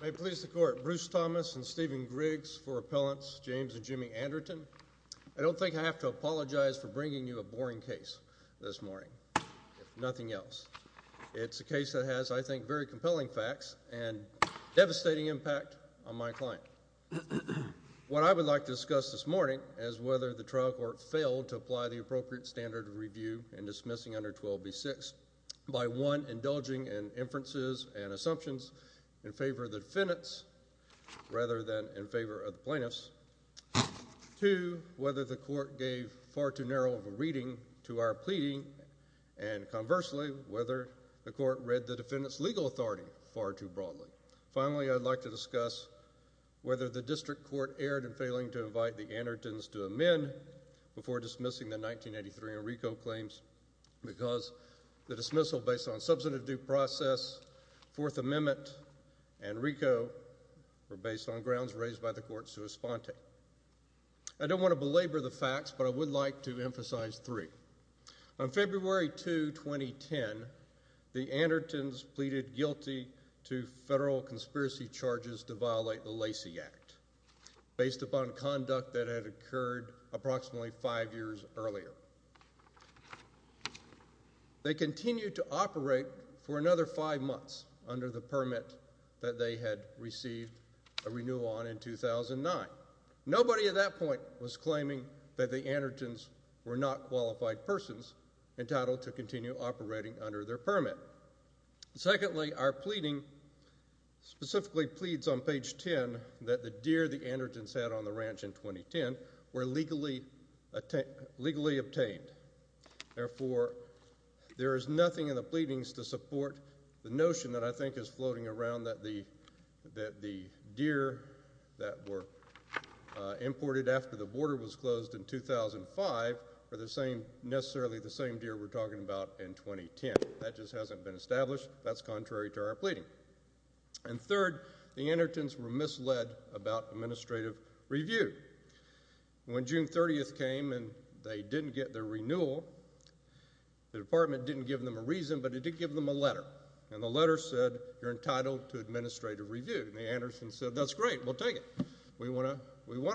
May it please the Court, Bruce Thomas and Stephen Griggs for Appellants James and Jimmy Anderton. I don't think I have to apologize for bringing you a boring case this morning, if nothing else. It's a case that has, I think, very compelling facts and devastating impact on my client. What I would like to discuss this morning is whether the trial court failed to apply the appropriate standard of review in dismissing under 12b-6, by one, indulging in inferences and assumptions in favor of the defendants rather than in favor of the plaintiffs, two, whether the court gave far too narrow of a reading to our pleading, and conversely, whether the court read the defendant's legal authority far too broadly. Finally, I'd like to discuss whether the district court erred in failing to invite the Andertons to amend before dismissing the 1983 Enrico claims because the dismissal based on substantive due process, Fourth Amendment, and Enrico were based on grounds raised by the court sua sponte. I don't want to belabor the facts, but I would like to emphasize three. On February 2, 2010, the Andertons pleaded guilty to federal conspiracy charges to violate the Lacey Act based upon conduct that had occurred approximately five years earlier. They continued to operate for another five months under the permit that they had received a renewal on in 2009. Nobody at that point was claiming that the Andertons were not qualified persons entitled to continue operating under their permit. Secondly, our pleading specifically pleads on page 10 that the deer the Andertons had on the ranch in 2010 were legally obtained. Therefore, there is nothing in the pleadings to support the notion that I think is floating around that the deer that were imported after the border was closed in 2005 are necessarily the same deer we're talking about in 2010. That just hasn't been established. That's contrary to our pleading. And third, the Andertons were misled about administrative review. When June 30th came and they didn't get their renewal, the department didn't give them a reason, but it did give them a letter, and the letter said, you're entitled to administrative review. And the Andertons said, that's great. We'll take it. We want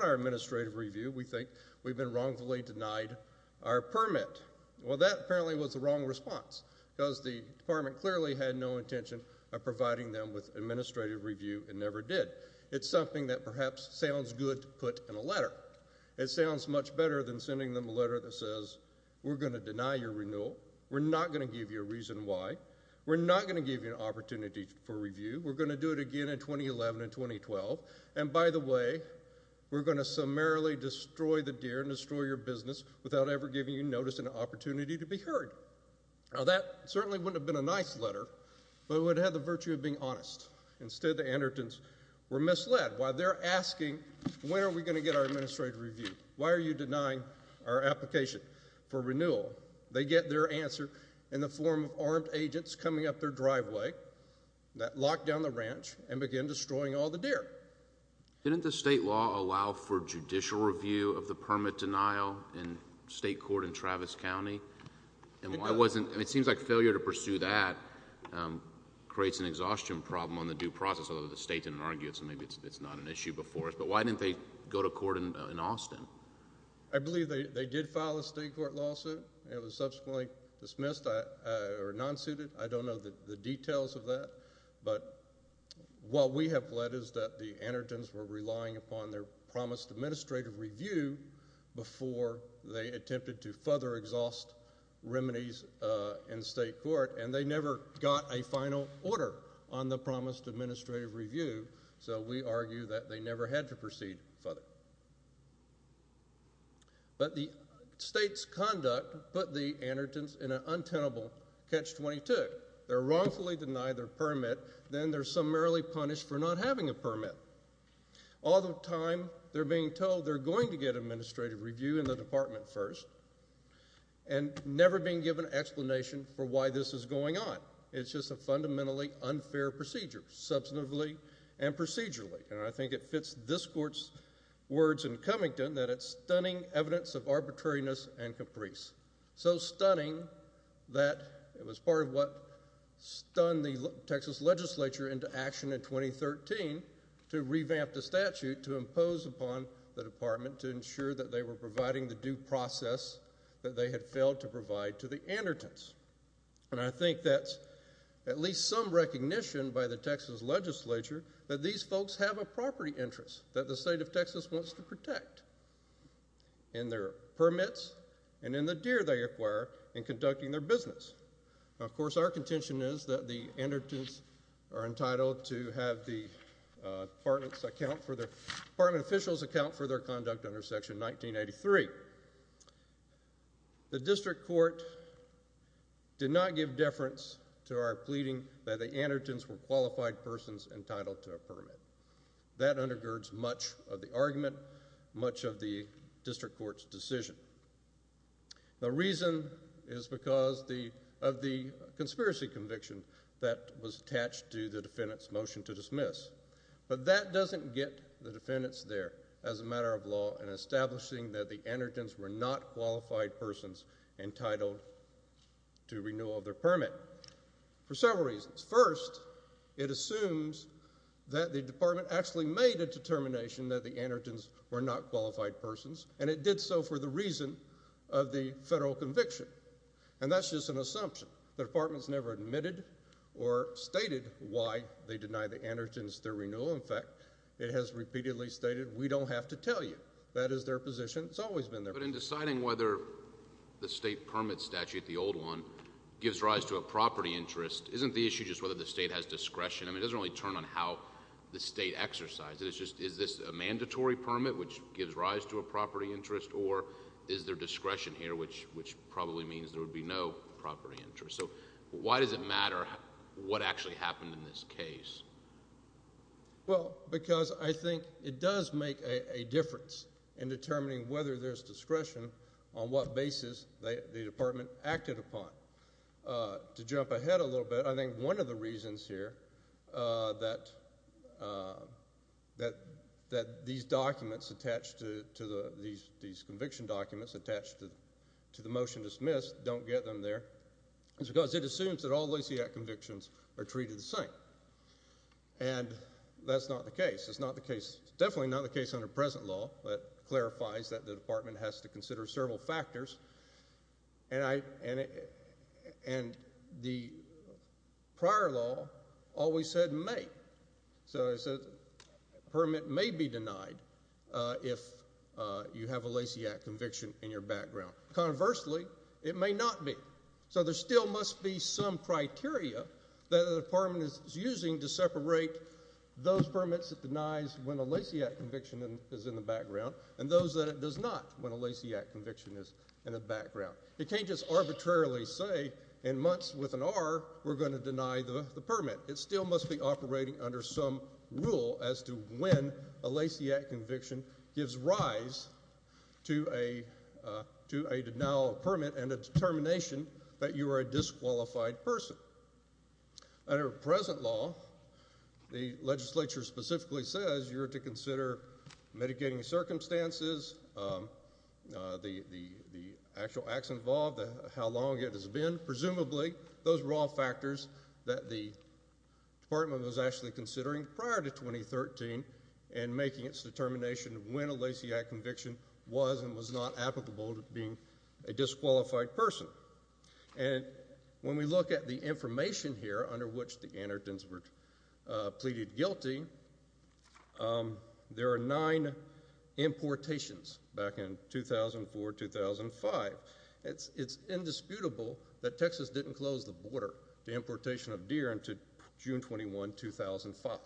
our administrative review. We think we've been wrongfully denied our permit. Well, that apparently was the wrong response, because the department clearly had no intention of providing them with administrative review and never did. It's something that perhaps sounds good to put in a letter. It sounds much better than sending them a letter that says, we're going to deny your renewal. We're not going to give you a reason why. We're not going to give you an opportunity for review. We're going to do it again in 2011 and 2012. And by the way, we're going to summarily destroy the deer and destroy your business without ever giving you notice and an opportunity to be heard. Now, that certainly wouldn't have been a nice letter, but it would have had the virtue of being honest. Instead, the Andertons were misled while they're asking, when are we going to get our administrative review? Why are you denying our application for renewal? They get their answer in the form of armed agents coming up their driveway that locked down the ranch and began destroying all the deer. Didn't the state law allow for judicial review of the permit denial in state court in Travis County? And why wasn't, it seems like failure to pursue that creates an exhaustion problem on the due process, although the state didn't argue it, so maybe it's not an issue before us. But why didn't they go to court in Austin? I believe they did file a state court lawsuit. It was subsequently dismissed or non-suited. I don't know the details of that. But what we have led is that the Andertons were relying upon their promised administrative review before they attempted to further exhaust remedies in state court, and they never got a final order on the promised administrative review. So we argue that they never had to proceed further. But the state's conduct put the Andertons in an untenable catch-22. They're wrongfully denied their permit, then they're summarily punished for not having a permit. All the time, they're being told they're going to get administrative review in the department first, and never being given an explanation for why this is going on. It's just a fundamentally unfair procedure, substantively and procedurally, and I think it fits this court's words in Covington that it's stunning evidence of arbitrariness and it stunned the Texas legislature into action in 2013 to revamp the statute to impose upon the department to ensure that they were providing the due process that they had failed to provide to the Andertons. And I think that's at least some recognition by the Texas legislature that these folks have a property interest that the state of Texas wants to protect in their permits and in the deer they acquire in conducting their business. Of course, our contention is that the Andertons are entitled to have the department's account for their, department officials' account for their conduct under Section 1983. The district court did not give deference to our pleading that the Andertons were qualified persons entitled to a permit. That undergirds much of the argument, much of the district court's decision. The reason is because of the conspiracy conviction that was attached to the defendant's motion to dismiss. But that doesn't get the defendants there as a matter of law in establishing that the Andertons were not qualified persons entitled to renewal of their permit for several reasons. First, it assumes that the department actually made a determination that the Andertons were not qualified persons, and it did so for the reason of the federal conviction. And that's just an assumption. The department's never admitted or stated why they deny the Andertons their renewal. In fact, it has repeatedly stated, we don't have to tell you. That is their position. It's always been their position. But in deciding whether the state permit statute, the old one, gives rise to a property interest, isn't the issue just whether the state has discretion? I mean, it doesn't really turn on how the state exercises. It's just, is this a mandatory permit, which gives rise to a property interest, or is there discretion here, which probably means there would be no property interest? So why does it matter what actually happened in this case? Well, because I think it does make a difference in determining whether there's discretion on what basis the department acted upon. To jump ahead a little bit, I think one of the reasons here that these documents attached to the, these conviction documents attached to the motion dismissed don't get them there is because it assumes that all Lysiak convictions are treated the same. And that's not the case. It's not the case, definitely not the case under present law that clarifies that the department has to consider several factors. And I, and the prior law always said may. So it says a permit may be denied if you have a Lysiak conviction in your background. Conversely, it may not be. So there still must be some criteria that a department is using to separate those permits that denies when a Lysiak conviction is in the background and those that it does not when a Lysiak conviction is in the background. It can't just arbitrarily say in months with an R, we're going to deny the permit. It still must be operating under some rule as to when a Lysiak conviction gives rise to a, to a denial of permit and a determination that you are a disqualified person. However, under present law, the legislature specifically says you're to consider mitigating circumstances, the actual acts involved, how long it has been, presumably those raw factors that the department was actually considering prior to 2013 and making its determination when a Lysiak conviction was and was not applicable to being a disqualified person. And when we look at the information here under which the Annertons were pleaded guilty, there are nine importations back in 2004, 2005. It's, it's indisputable that Texas didn't close the border to importation of deer into June 21, 2005.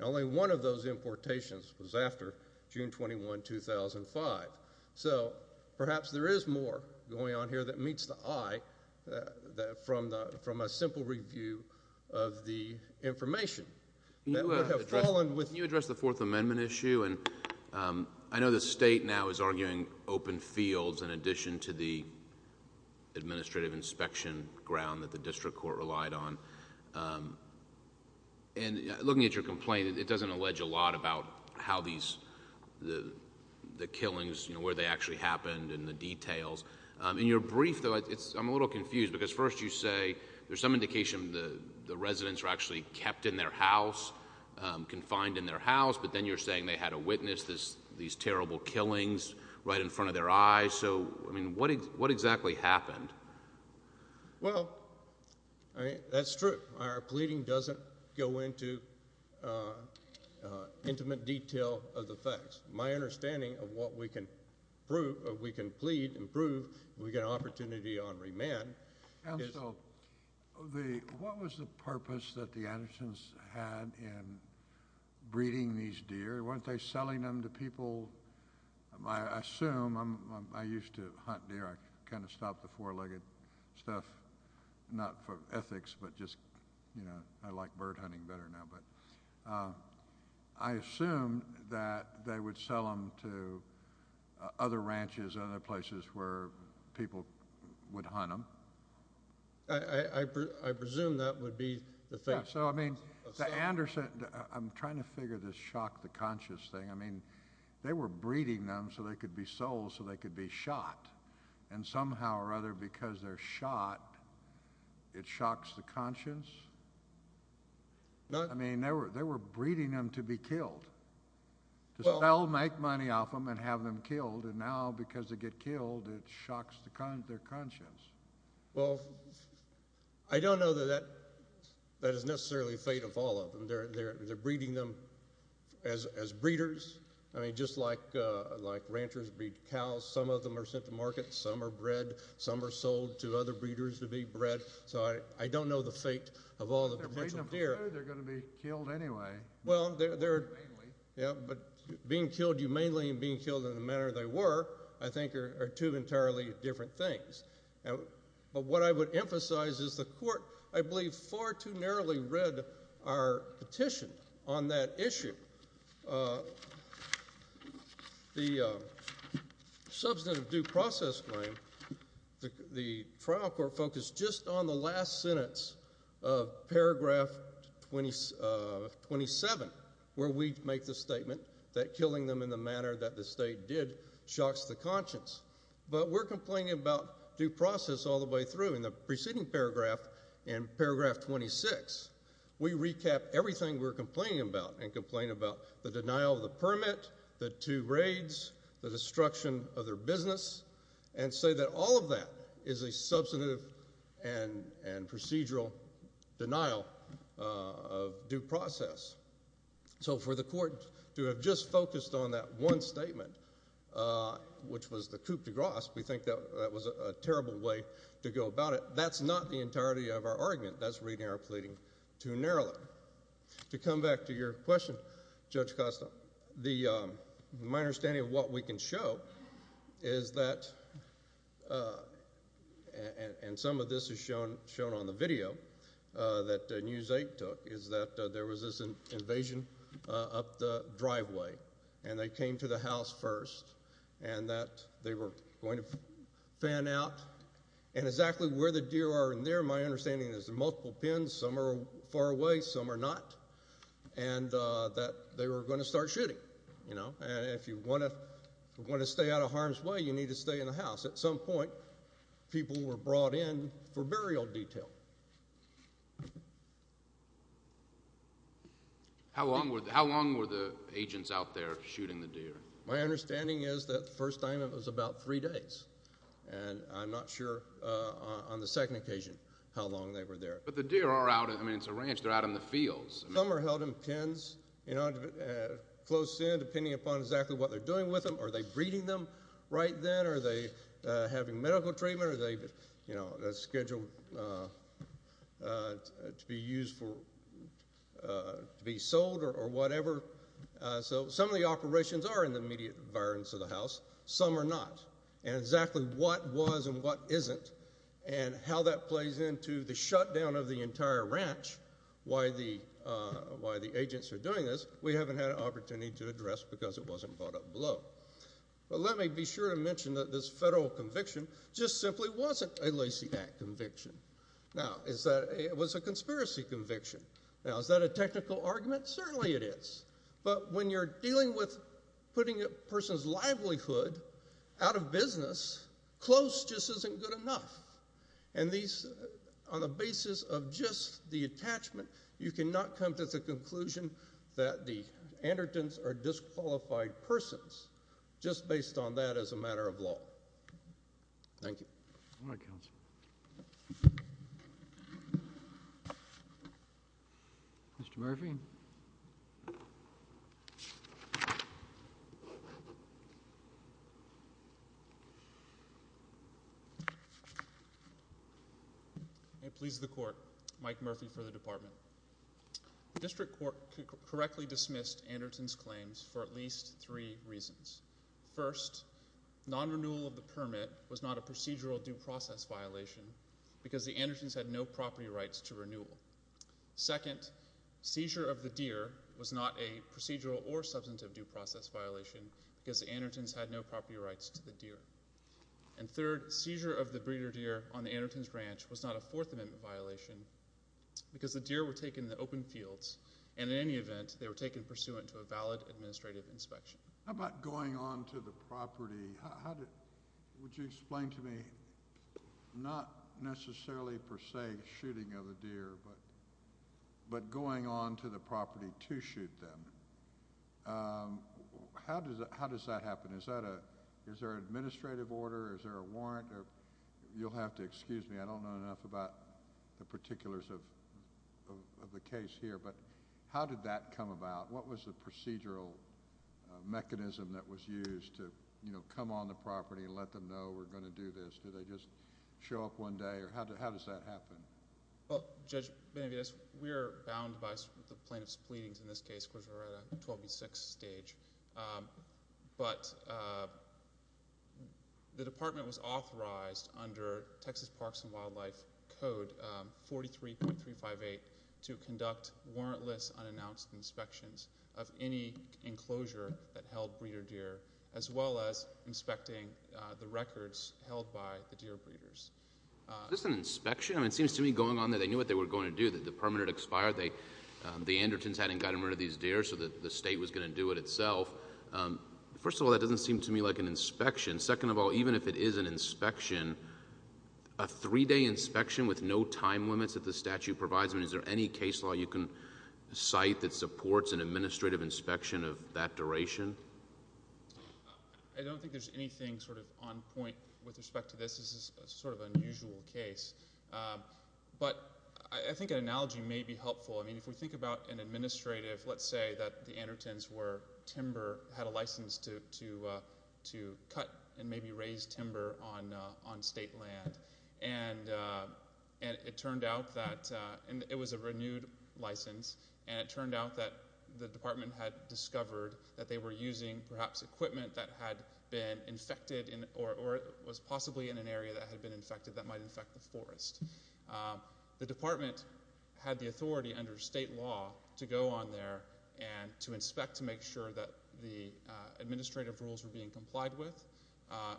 Only one of those importations was after June 21, 2005. So perhaps there is more going on here that meets the eye that, that from the, from a simple review of the information. That would have fallen with... Can you address the Fourth Amendment issue? And I know the state now is arguing open fields in addition to the administrative inspection ground that the district court relied on. And looking at your complaint, it doesn't allege a lot about how these, the killings, you know, where they actually happened and the details. In your brief, though, it's, I'm a little confused. Because first you say there's some indication the residents were actually kept in their house, confined in their house. But then you're saying they had to witness these terrible killings right in front of their eyes. So, I mean, what exactly happened? Well, I mean, that's true. Our pleading doesn't go into intimate detail of the facts. My understanding of what we can prove, or we can plead and prove, if we get an opportunity on remand, is... And so, the, what was the purpose that the Andersons had in breeding these deer? Weren't they selling them to people? I assume, I used to hunt deer. I kind of stopped the four-legged stuff, not for ethics, but just, you know, I like bird hunting better now. But I assume that they would sell them to other ranches, other places where people would hunt them. I presume that would be the thing. So, I mean, the Anderson, I'm trying to figure this shock, the conscious thing. I mean, they were breeding them so they could be sold, so they could be shot. And somehow or other, because they're shot, it shocks the conscience. I mean, they were breeding them to be killed, to sell, make money off them, and have them killed, and now, because they get killed, it shocks their conscience. Well, I don't know that that is necessarily the fate of all of them. They're breeding them as breeders. I mean, just like ranchers breed cows, some of them are sent to market, some are bred, some are sold to other breeders to be bred. So I don't know the fate of all the potential deer. But if they're breeding them for food, they're going to be killed anyway. Well, they're, yeah, but being killed humanely and being killed in the manner that they were, I think are two entirely different things. But what I would emphasize is the court, I believe, far too narrowly read our petition on that issue. The substantive due process claim, the trial court focused just on the last sentence of paragraph 27, where we make the statement that killing them in the manner that the state did shocks the conscience. But we're complaining about due process all the way through. In the preceding paragraph, in paragraph 26, we recap everything we're complaining about and complain about the denial of the permit, the two raids, the destruction of their business, and say that all of that is a substantive and procedural denial of due process. So for the court to have just focused on that one statement, which was the coup de grace, we think that was a terrible way to go about it. That's not the entirety of our argument. That's reading our pleading too narrowly. To come back to your question, Judge Costa, the, my understanding of what we can show is that, and some of this is shown on the video that News 8 took, is that there was this invasion up the driveway. And they came to the house first. And that they were going to fan out. And exactly where the deer are in there, my understanding is there's multiple pins. Some are far away. Some are not. And that they were going to start shooting, you know. And if you want to stay out of harm's way, you need to stay in the house. At some point, people were brought in for burial detail. How long were the agents out there shooting the deer? My understanding is that the first time it was about three days. And I'm not sure on the second occasion how long they were there. But the deer are out, I mean, it's a ranch. They're out in the fields. Some are held in pins, you know, close in, depending upon exactly what they're doing with them. Are they breeding them right then? Are they having medical treatment? Are they, you know, scheduled to be used for, to be sold or whatever? So some of the operations are in the immediate environments of the house. Some are not. And exactly what was and what isn't. And how that plays into the shutdown of the entire ranch, why the agents are doing this, we haven't had an opportunity to address because it wasn't brought up below. But let me be sure to mention that this federal conviction just simply wasn't a Lacey Act conviction. Now, it was a conspiracy conviction. Now, is that a technical argument? Certainly it is. But when you're dealing with putting a person's livelihood out of business, close just isn't good enough. And these, on the basis of just the attachment, you cannot come to the conclusion that the Andertons are disqualified persons, just based on that as a matter of law. Thank you. All right, counsel. Mr. Murphy. May it please the court. Mike Murphy for the department. The district court correctly dismissed Anderton's claims for at least three reasons. First, non-renewal of the permit was not a procedural due process violation because the Andertons had no property rights to renewal. Second, seizure of the deer was not a procedural or substantive due process violation because the Andertons had no property rights to the deer. And third, seizure of the breeder deer on the Anderton's ranch was not a Fourth Amendment violation because the deer were taken in the open fields, and in any event, they were taken pursuant to a valid administrative inspection. How about going on to the property? How did, would you explain to me, not necessarily, per se, shooting of a deer, but going on to the property to shoot them? How does that happen? Is that a, is there an administrative order? Is there a warrant? You'll have to excuse me. I don't know enough about the particulars of the case here, but how did that come about? What was the procedural mechanism that was used to, you know, come on the property and let them know we're going to do this? Did they just show up one day, or how does that happen? Well, Judge Benavides, we're bound by the plaintiff's pleadings in this case because we're at a 12B6 stage, but the department was authorized under Texas Parks and Wildlife Code 43.358 to conduct warrantless unannounced inspections of any enclosure that held breeder deer, as well as inspecting the records held by the deer breeders. Is this an inspection? I mean, it seems to me going on that they knew what they were going to do, that the permit had expired, they, the Andertons hadn't gotten rid of these deer, so the state was going to do it itself. First of all, that doesn't seem to me like an inspection. Second of all, even if it is an inspection, a three-day inspection with no time limits that the statute provides, I mean, is there any case law you can cite that supports an administrative inspection of that duration? I don't think there's anything sort of on point with respect to this. This is a sort of unusual case, but I think an analogy may be helpful. I mean, if we think about an administrative, let's say that the Andertons were timber, had a license to cut and maybe raise timber on state land, and it turned out that, and it was a renewed license, and it turned out that the department had discovered that they were using perhaps equipment that had been infected or was possibly in an area that had been infected that might infect the forest. The department had the authority under state law to go on there and to inspect to make sure that the administrative rules were being complied with,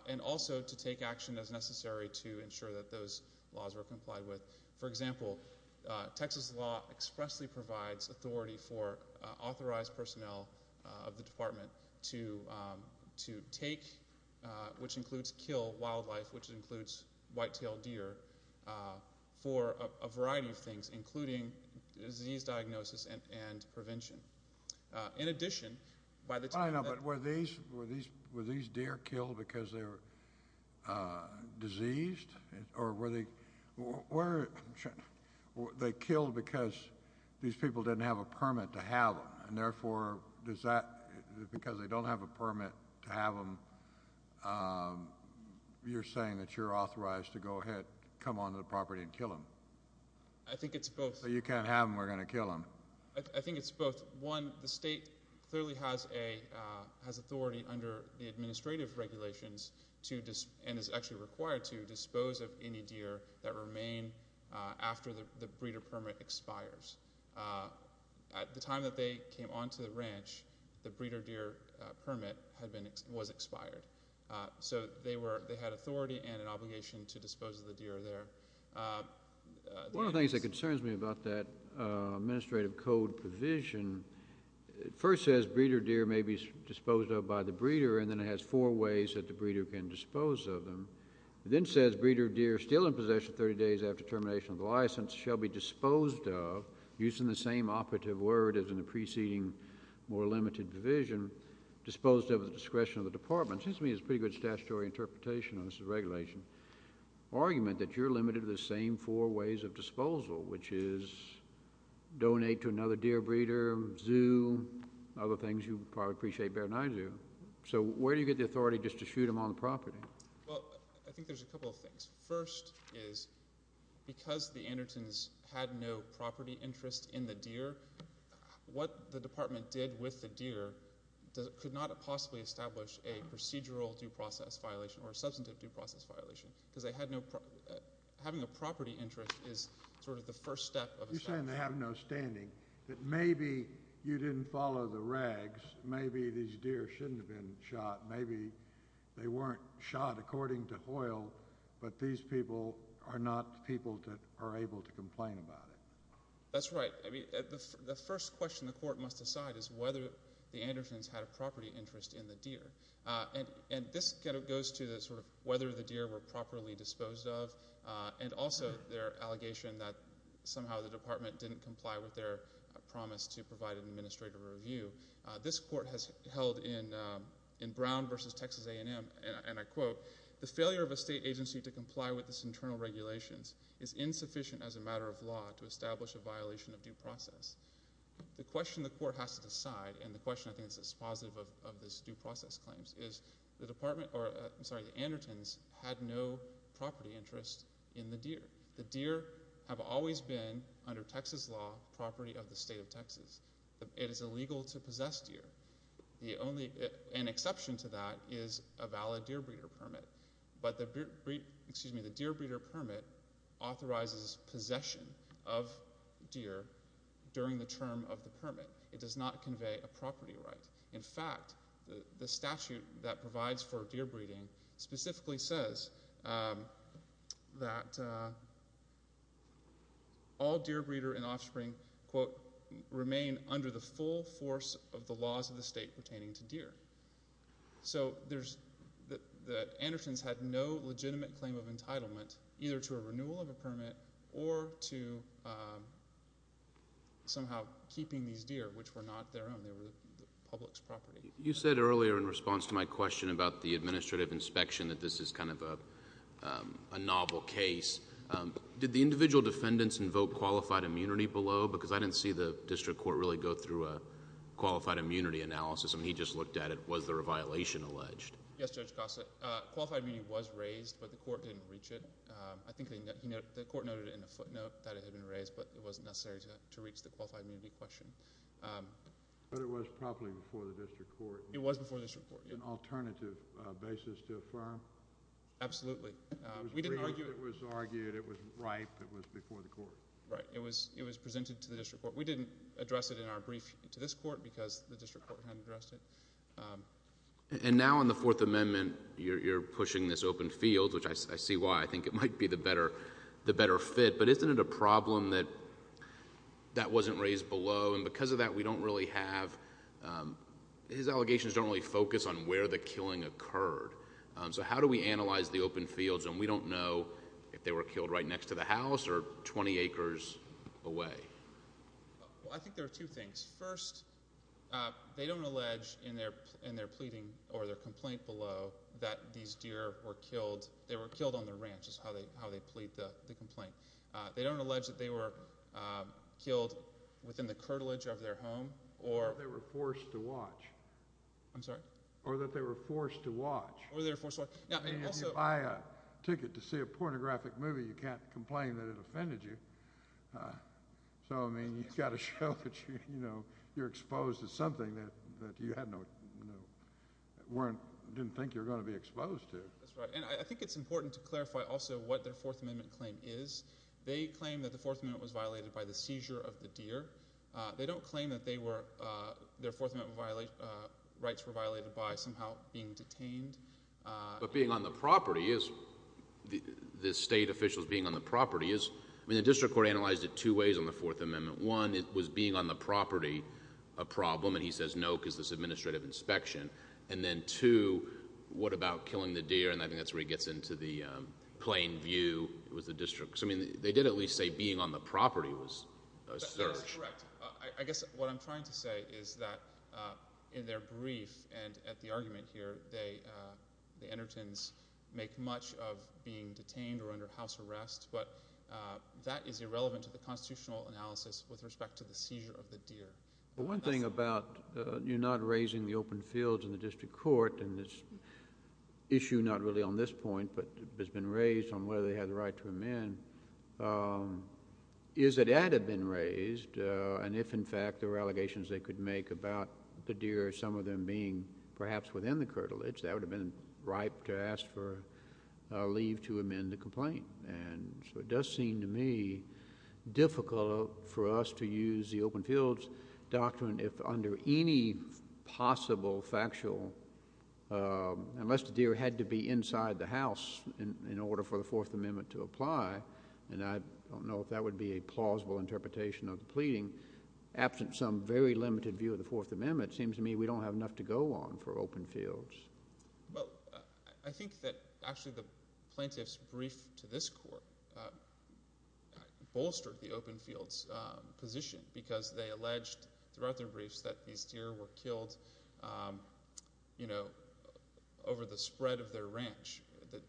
and also to take action as necessary to ensure that those laws were complied with. For example, Texas law expressly provides authority for authorized personnel of the department to take, which includes kill wildlife, which includes white-tailed deer, for a variety of things, including disease diagnosis and prevention. In addition, by the time that- I know, but were these deer killed because they were diseased, or were they, were, they killed because these people didn't have a permit to have them, and therefore, does that, because they don't have a permit to have them, you're saying that you're authorized to go ahead, come onto the property and kill them? I think it's both. So you can't have them, we're going to kill them. I think it's both. One, the state clearly has authority under the administrative regulations to, and is actually required to, dispose of any deer that remain after the breeder permit expires. At the time that they came onto the ranch, the breeder deer permit had been, was expired. So they were, they had authority and an obligation to dispose of the deer there. One of the things that concerns me about that administrative code provision, it first says breeder deer may be disposed of by the breeder, and then it has four ways that the breeder can dispose of them. It then says breeder deer still in possession 30 days after termination of the license shall be disposed of, using the same operative word as in the preceding more limited division, disposed of at the discretion of the department. Seems to me it's a pretty good statutory interpretation on this regulation. Argument that you're limited to the same four ways of disposal, which is donate to another deer breeder, zoo, other things you probably appreciate better than I do. So where do you get the authority just to shoot them on the property? Well, I think there's a couple of things. First is, because the Andertons had no property interest in the deer, what the department did with the deer could not have possibly established a procedural due to the license violation, because having a property interest is sort of the first step. You're saying they have no standing, that maybe you didn't follow the regs, maybe these deer shouldn't have been shot, maybe they weren't shot according to oil, but these people are not people that are able to complain about it. That's right. I mean, the first question the court must decide is whether the Andertons had a property interest in the deer, and this goes to the sort of whether the deer were properly disposed of, and also their allegation that somehow the department didn't comply with their promise to provide an administrative review. This court has held in Brown versus Texas A&M, and I quote, the failure of a state agency to comply with this internal regulations is insufficient as a matter of law to establish a violation of due process. The question the court has to decide, and the question I think is positive of this due process claims, is the department, or I'm sorry, the Andertons had no property interest in the deer. The deer have always been, under Texas law, property of the state of Texas. It is illegal to possess deer. The only, an exception to that is a valid deer breeder permit, but the, excuse me, the deer breeder permit authorizes possession of deer during the term of the permit. It does not convey a property right. In fact, the statute that provides for deer breeding specifically says that all deer breeder and offspring, quote, remain under the full force of the laws of the state pertaining to deer. So there's, the Andertons had no legitimate claim of entitlement, either to a renewal of a permit, or to somehow keeping these deer, which were not their own. They were the public's property. You said earlier in response to my question about the administrative inspection that this is kind of a novel case. Did the individual defendants invoke qualified immunity below? Because I didn't see the district court really go through a qualified immunity analysis. I mean, he just looked at it. Was there a violation alleged? Yes, Judge Costa. Qualified immunity was raised, but the court didn't reach it. I think the court noted in a footnote that it had been raised, but it wasn't necessary to reach the qualified immunity question. But it was probably before the district court. It was before the district court, yes. An alternative basis to affirm. Absolutely. We didn't argue. It was argued. It was right. It was before the court. Right. It was presented to the district court. We didn't address it in our brief to this court, because the district court hadn't addressed it. And now in the Fourth Amendment, you're pushing this open field, which I see why. I think it might be the better fit, but isn't it a problem that that wasn't raised below and because of that, we don't really have, his allegations don't really focus on where the killing occurred. So how do we analyze the open fields when we don't know if they were killed right next to the house or 20 acres away? Well, I think there are two things. First, they don't allege in their pleading or their complaint below that these deer were killed. They were killed on the ranch is how they plead the complaint. They don't allege that they were killed within the curtilage of their home or. That they were forced to watch. I'm sorry? Or that they were forced to watch. Or they were forced to watch. Now, and also. If you buy a ticket to see a pornographic movie, you can't complain that it offended you. So, I mean, you've got to show that, you know, you're exposed to something that you had no, weren't, didn't think you were going to be exposed to. That's right. And I think it's important to clarify also what their Fourth Amendment claim is. They claim that the Fourth Amendment was violated by the seizure of the deer. They don't claim that they were, their Fourth Amendment rights were violated by somehow being detained. But being on the property is, the state officials being on the property is. I mean, the district court analyzed it two ways on the Fourth Amendment. One, it was being on the property a problem. And he says, no, because this administrative inspection. And then two, what about killing the deer? And I think that's where he gets into the plain view with the district. Because, I mean, they did at least say being on the property was a search. That's correct. I guess what I'm trying to say is that in their brief and at the argument here, they, the Endertons make much of being detained or under house arrest. But that is irrelevant to the constitutional analysis with respect to the seizure of the deer. Well, one thing about you not raising the open fields in the district court and this issue not really on this point, but has been raised on whether they had the right to amend. Is that it had been raised. And if in fact there were allegations they could make about the deer, some of them being perhaps within the curtilage, that would have been ripe to ask for leave to amend the complaint. And so it does seem to me difficult for us to use the open fields doctrine if under any possible factual, unless the deer had to be inside the house in order for the Fourth Amendment to apply, and I don't know if that would be a plausible interpretation of the pleading, absent some very limited view of the Fourth Amendment, it seems to me we don't have enough to go on for open fields. Well, I think that actually the plaintiff's brief to this court bolstered the open fields position because they alleged throughout their briefs that these deer were killed, you know, over the spread of their ranch,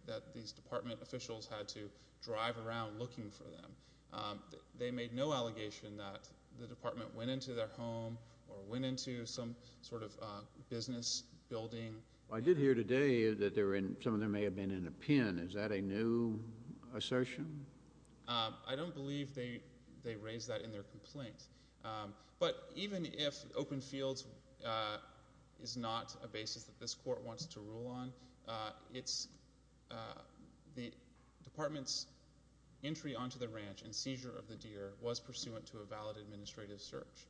that these department officials had to drive around looking for them. They made no allegation that the department went into their home or went into some sort of business building. I did hear today that some of them may have been in a pen. Is that a new assertion? I don't believe they raised that in their complaint. But even if open fields is not a basis that this court wants to rule on, the department's entry onto the ranch and seizure of the deer was pursuant to a valid administrative search.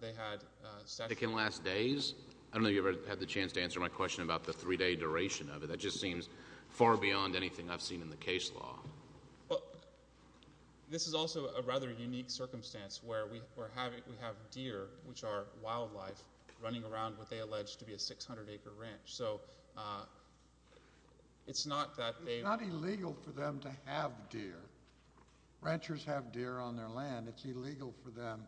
They had statutes. They can last days? I don't know if you ever had the chance to answer my question about the three-day duration of it. That just seems far beyond anything I've seen in the case law. Well, this is also a rather unique circumstance where we have deer, which are wildlife, running around what they allege to be a 600-acre ranch. So it's not that they- It's not illegal for them to have deer. Ranchers have deer on their land. It's illegal for them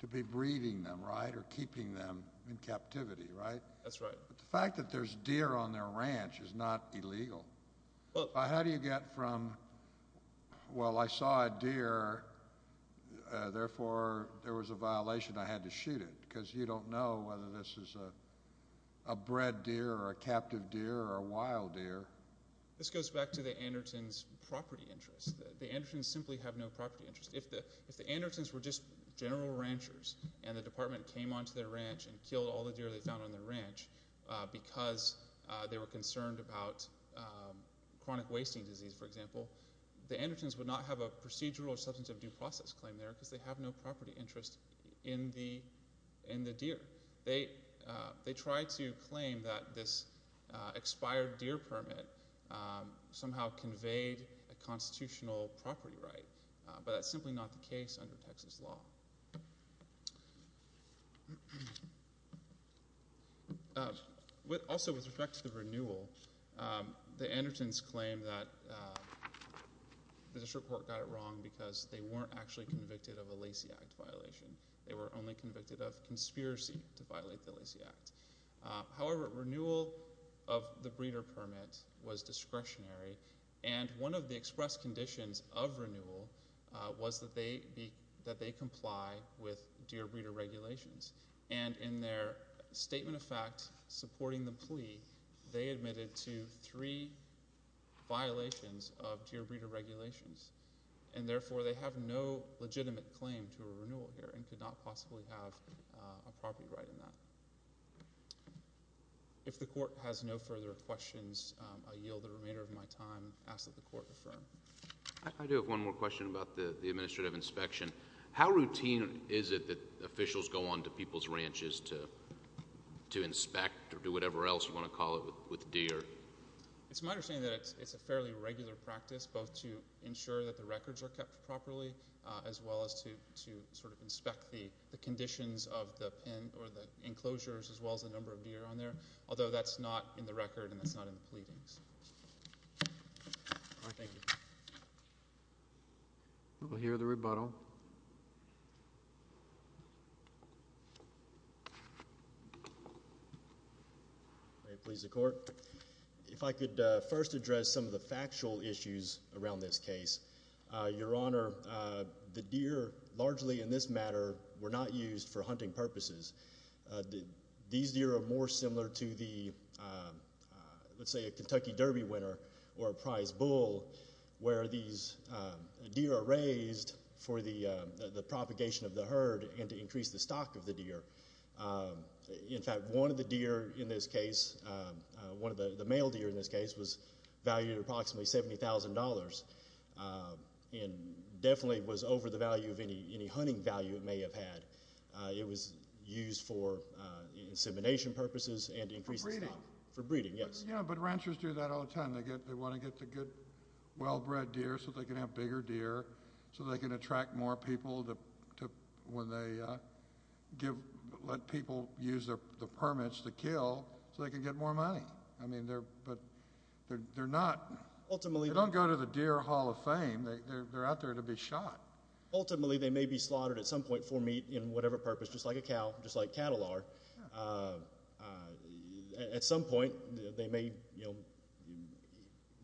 to be breeding them, right, or keeping them in captivity, right? That's right. But the fact that there's deer on their ranch is not illegal. How do you get from, well, I saw a deer, therefore there was a violation, I had to shoot it, because you don't know whether this is a bred deer or a captive deer or a wild deer. This goes back to the Andertons' property interest. The Andertons simply have no property interest. If the Andertons were just general ranchers and the department came onto their ranch and killed all the deer they found on their ranch because they were concerned about chronic wasting disease, for example, the Andertons would not have a procedural or substantive due process claim there, because they have no property interest in the deer. They tried to claim that this expired deer permit somehow conveyed a constitutional property right, but that's simply not the case under Texas law. Also, with respect to the renewal, the Andertons claim that the district court got it wrong because they weren't actually convicted of a Lacey Act violation. They were only convicted of conspiracy to violate the Lacey Act. However, renewal of the breeder permit was discretionary, and one of the express conditions of renewal was that they comply with deer breeder regulations, and in their statement of fact supporting the plea, they admitted to three violations of deer breeder regulations, and therefore they have no legitimate claim to a renewal here and could not possibly have a property right in that. If the court has no further questions, I yield the remainder of my time. I ask that the court affirm. I do have one more question about the administrative inspection. How routine is it that officials go on to people's ranches to inspect or do whatever else you want to call it with deer? It's my understanding that it's a fairly regular practice, both to ensure that the records are kept properly, as well as to sort of inspect the conditions of the pen or the enclosures, as well as the number of deer on there, although that's not in the record and that's not in the pleadings. All right. Thank you. We'll hear the rebuttal. May it please the court, if I could first address some of the factual issues around this case. Your Honor, the deer largely in this matter were not used for hunting purposes. These deer are more similar to the, let's say, a Kentucky Derby winner or a prize bull where these deer are raised for the propagation of the herd and to increase the stock of the deer. In fact, one of the deer in this case, one of the male deer in this case, was valued at approximately $70,000. And definitely was over the value of any hunting value it may have had. It was used for insemination purposes and to increase the stock. For breeding. For breeding, yes. Yeah, but ranchers do that all the time. They want to get the good, well-bred deer so they can have bigger deer, so they can attract more people when they let people use the permits to kill, so they can get more money. I mean, but they're not, they don't go to the Deer Hall of Fame, they're out there to be shot. Ultimately, they may be slaughtered at some point for meat in whatever purpose, just like a cow, just like cattle are. At some point, they may, you know,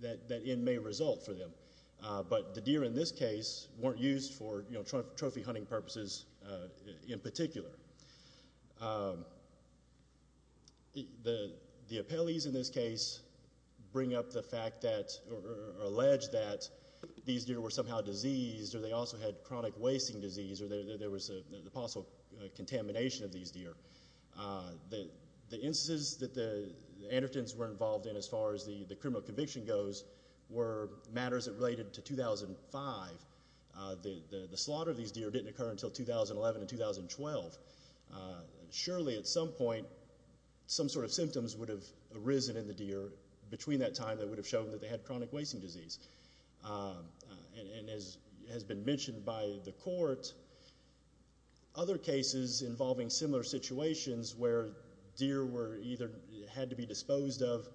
that end may result for them. But the deer in this case weren't used for, you know, trophy hunting purposes in particular. The appellees in this case bring up the fact that, or allege that these deer were somehow diseased, or they also had chronic wasting disease, or there was a possible contamination of these deer. The instances that the Andertons were involved in, as far as the criminal conviction goes, were matters that related to 2005. The slaughter of these deer didn't occur until 2011 and 2012. Surely, at some point, some sort of symptoms would have arisen in the deer between that time that would have shown that they had chronic wasting disease. And as has been mentioned by the court, other cases involving similar situations where deer were either, had to be disposed of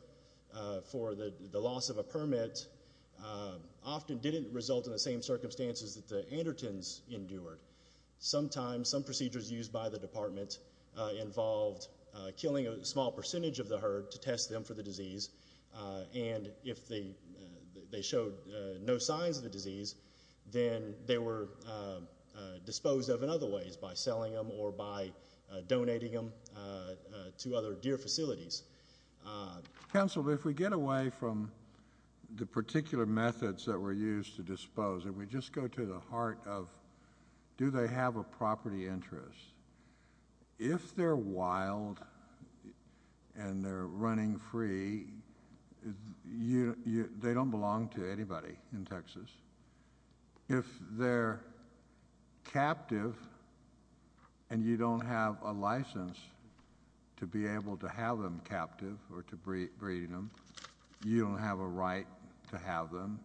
for the loss of a permit, often didn't result in the same circumstances that the Andertons endured. Sometimes, some procedures used by the department involved killing a small percentage of the herd to test them for the disease, and if they showed no signs of the disease, then they were disposed of in other ways, by selling them or by donating them to other deer facilities. Councilman, if we get away from the particular methods that were used to dispose, if we just go to the heart of, do they have a property interest? If they're wild and they're running free, they don't belong to anybody in Texas. If they're captive and you don't have a license to be able to have them captive or to breed them, you don't have a right to have them.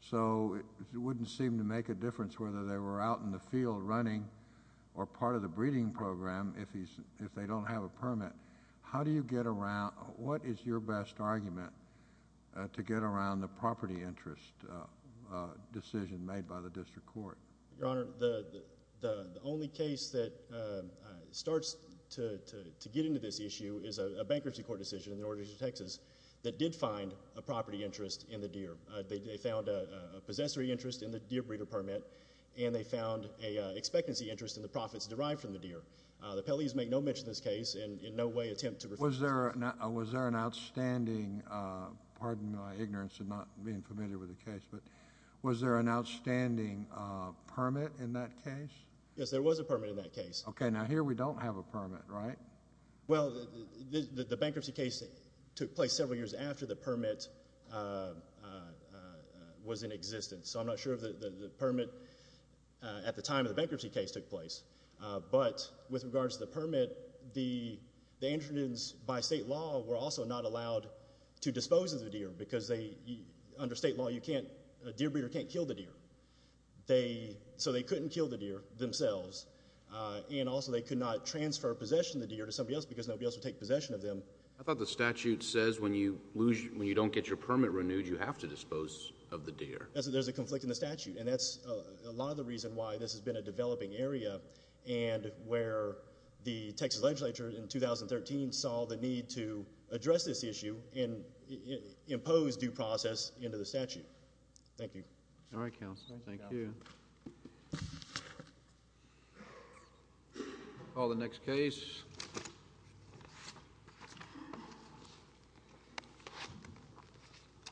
So, it wouldn't seem to make a difference whether they were out in the field running or part of the breeding program if they don't have a permit. How do you get around, what is your best argument to get around the property interest decision made by the district court? Your Honor, the only case that starts to get into this issue is a bankruptcy court decision in the order of Texas that did find a property interest in the deer. They found a possessory interest in the deer breeder permit, and they found an expectancy interest in the profits derived from the deer. The Pelley's make no mention of this case and in no way attempt to refuse it. Was there an outstanding, pardon my ignorance of not being familiar with the case, but was there an outstanding permit in that case? Yes, there was a permit in that case. Okay, now here we don't have a permit, right? Well, the bankruptcy case took place several years after the permit was in existence. So, I'm not sure if the permit at the time of the bankruptcy case took place, but with regards to the permit, the androgens by state law were also not allowed to dispose of the deer because under state law, a deer breeder can't kill the deer. So, they couldn't kill the deer themselves, and also they could not transfer possession of the deer to somebody else because nobody else would take possession of them. I thought the statute says when you lose, when you don't get your permit renewed, you have to dispose of the deer. Yes, there's a conflict in the statute, and that's a lot of the reason why this has been a developing area and where the Texas legislature in 2013 saw the need to address this issue and impose due process into the statute. Thank you. All right, Counselor. Thank you. All the next case.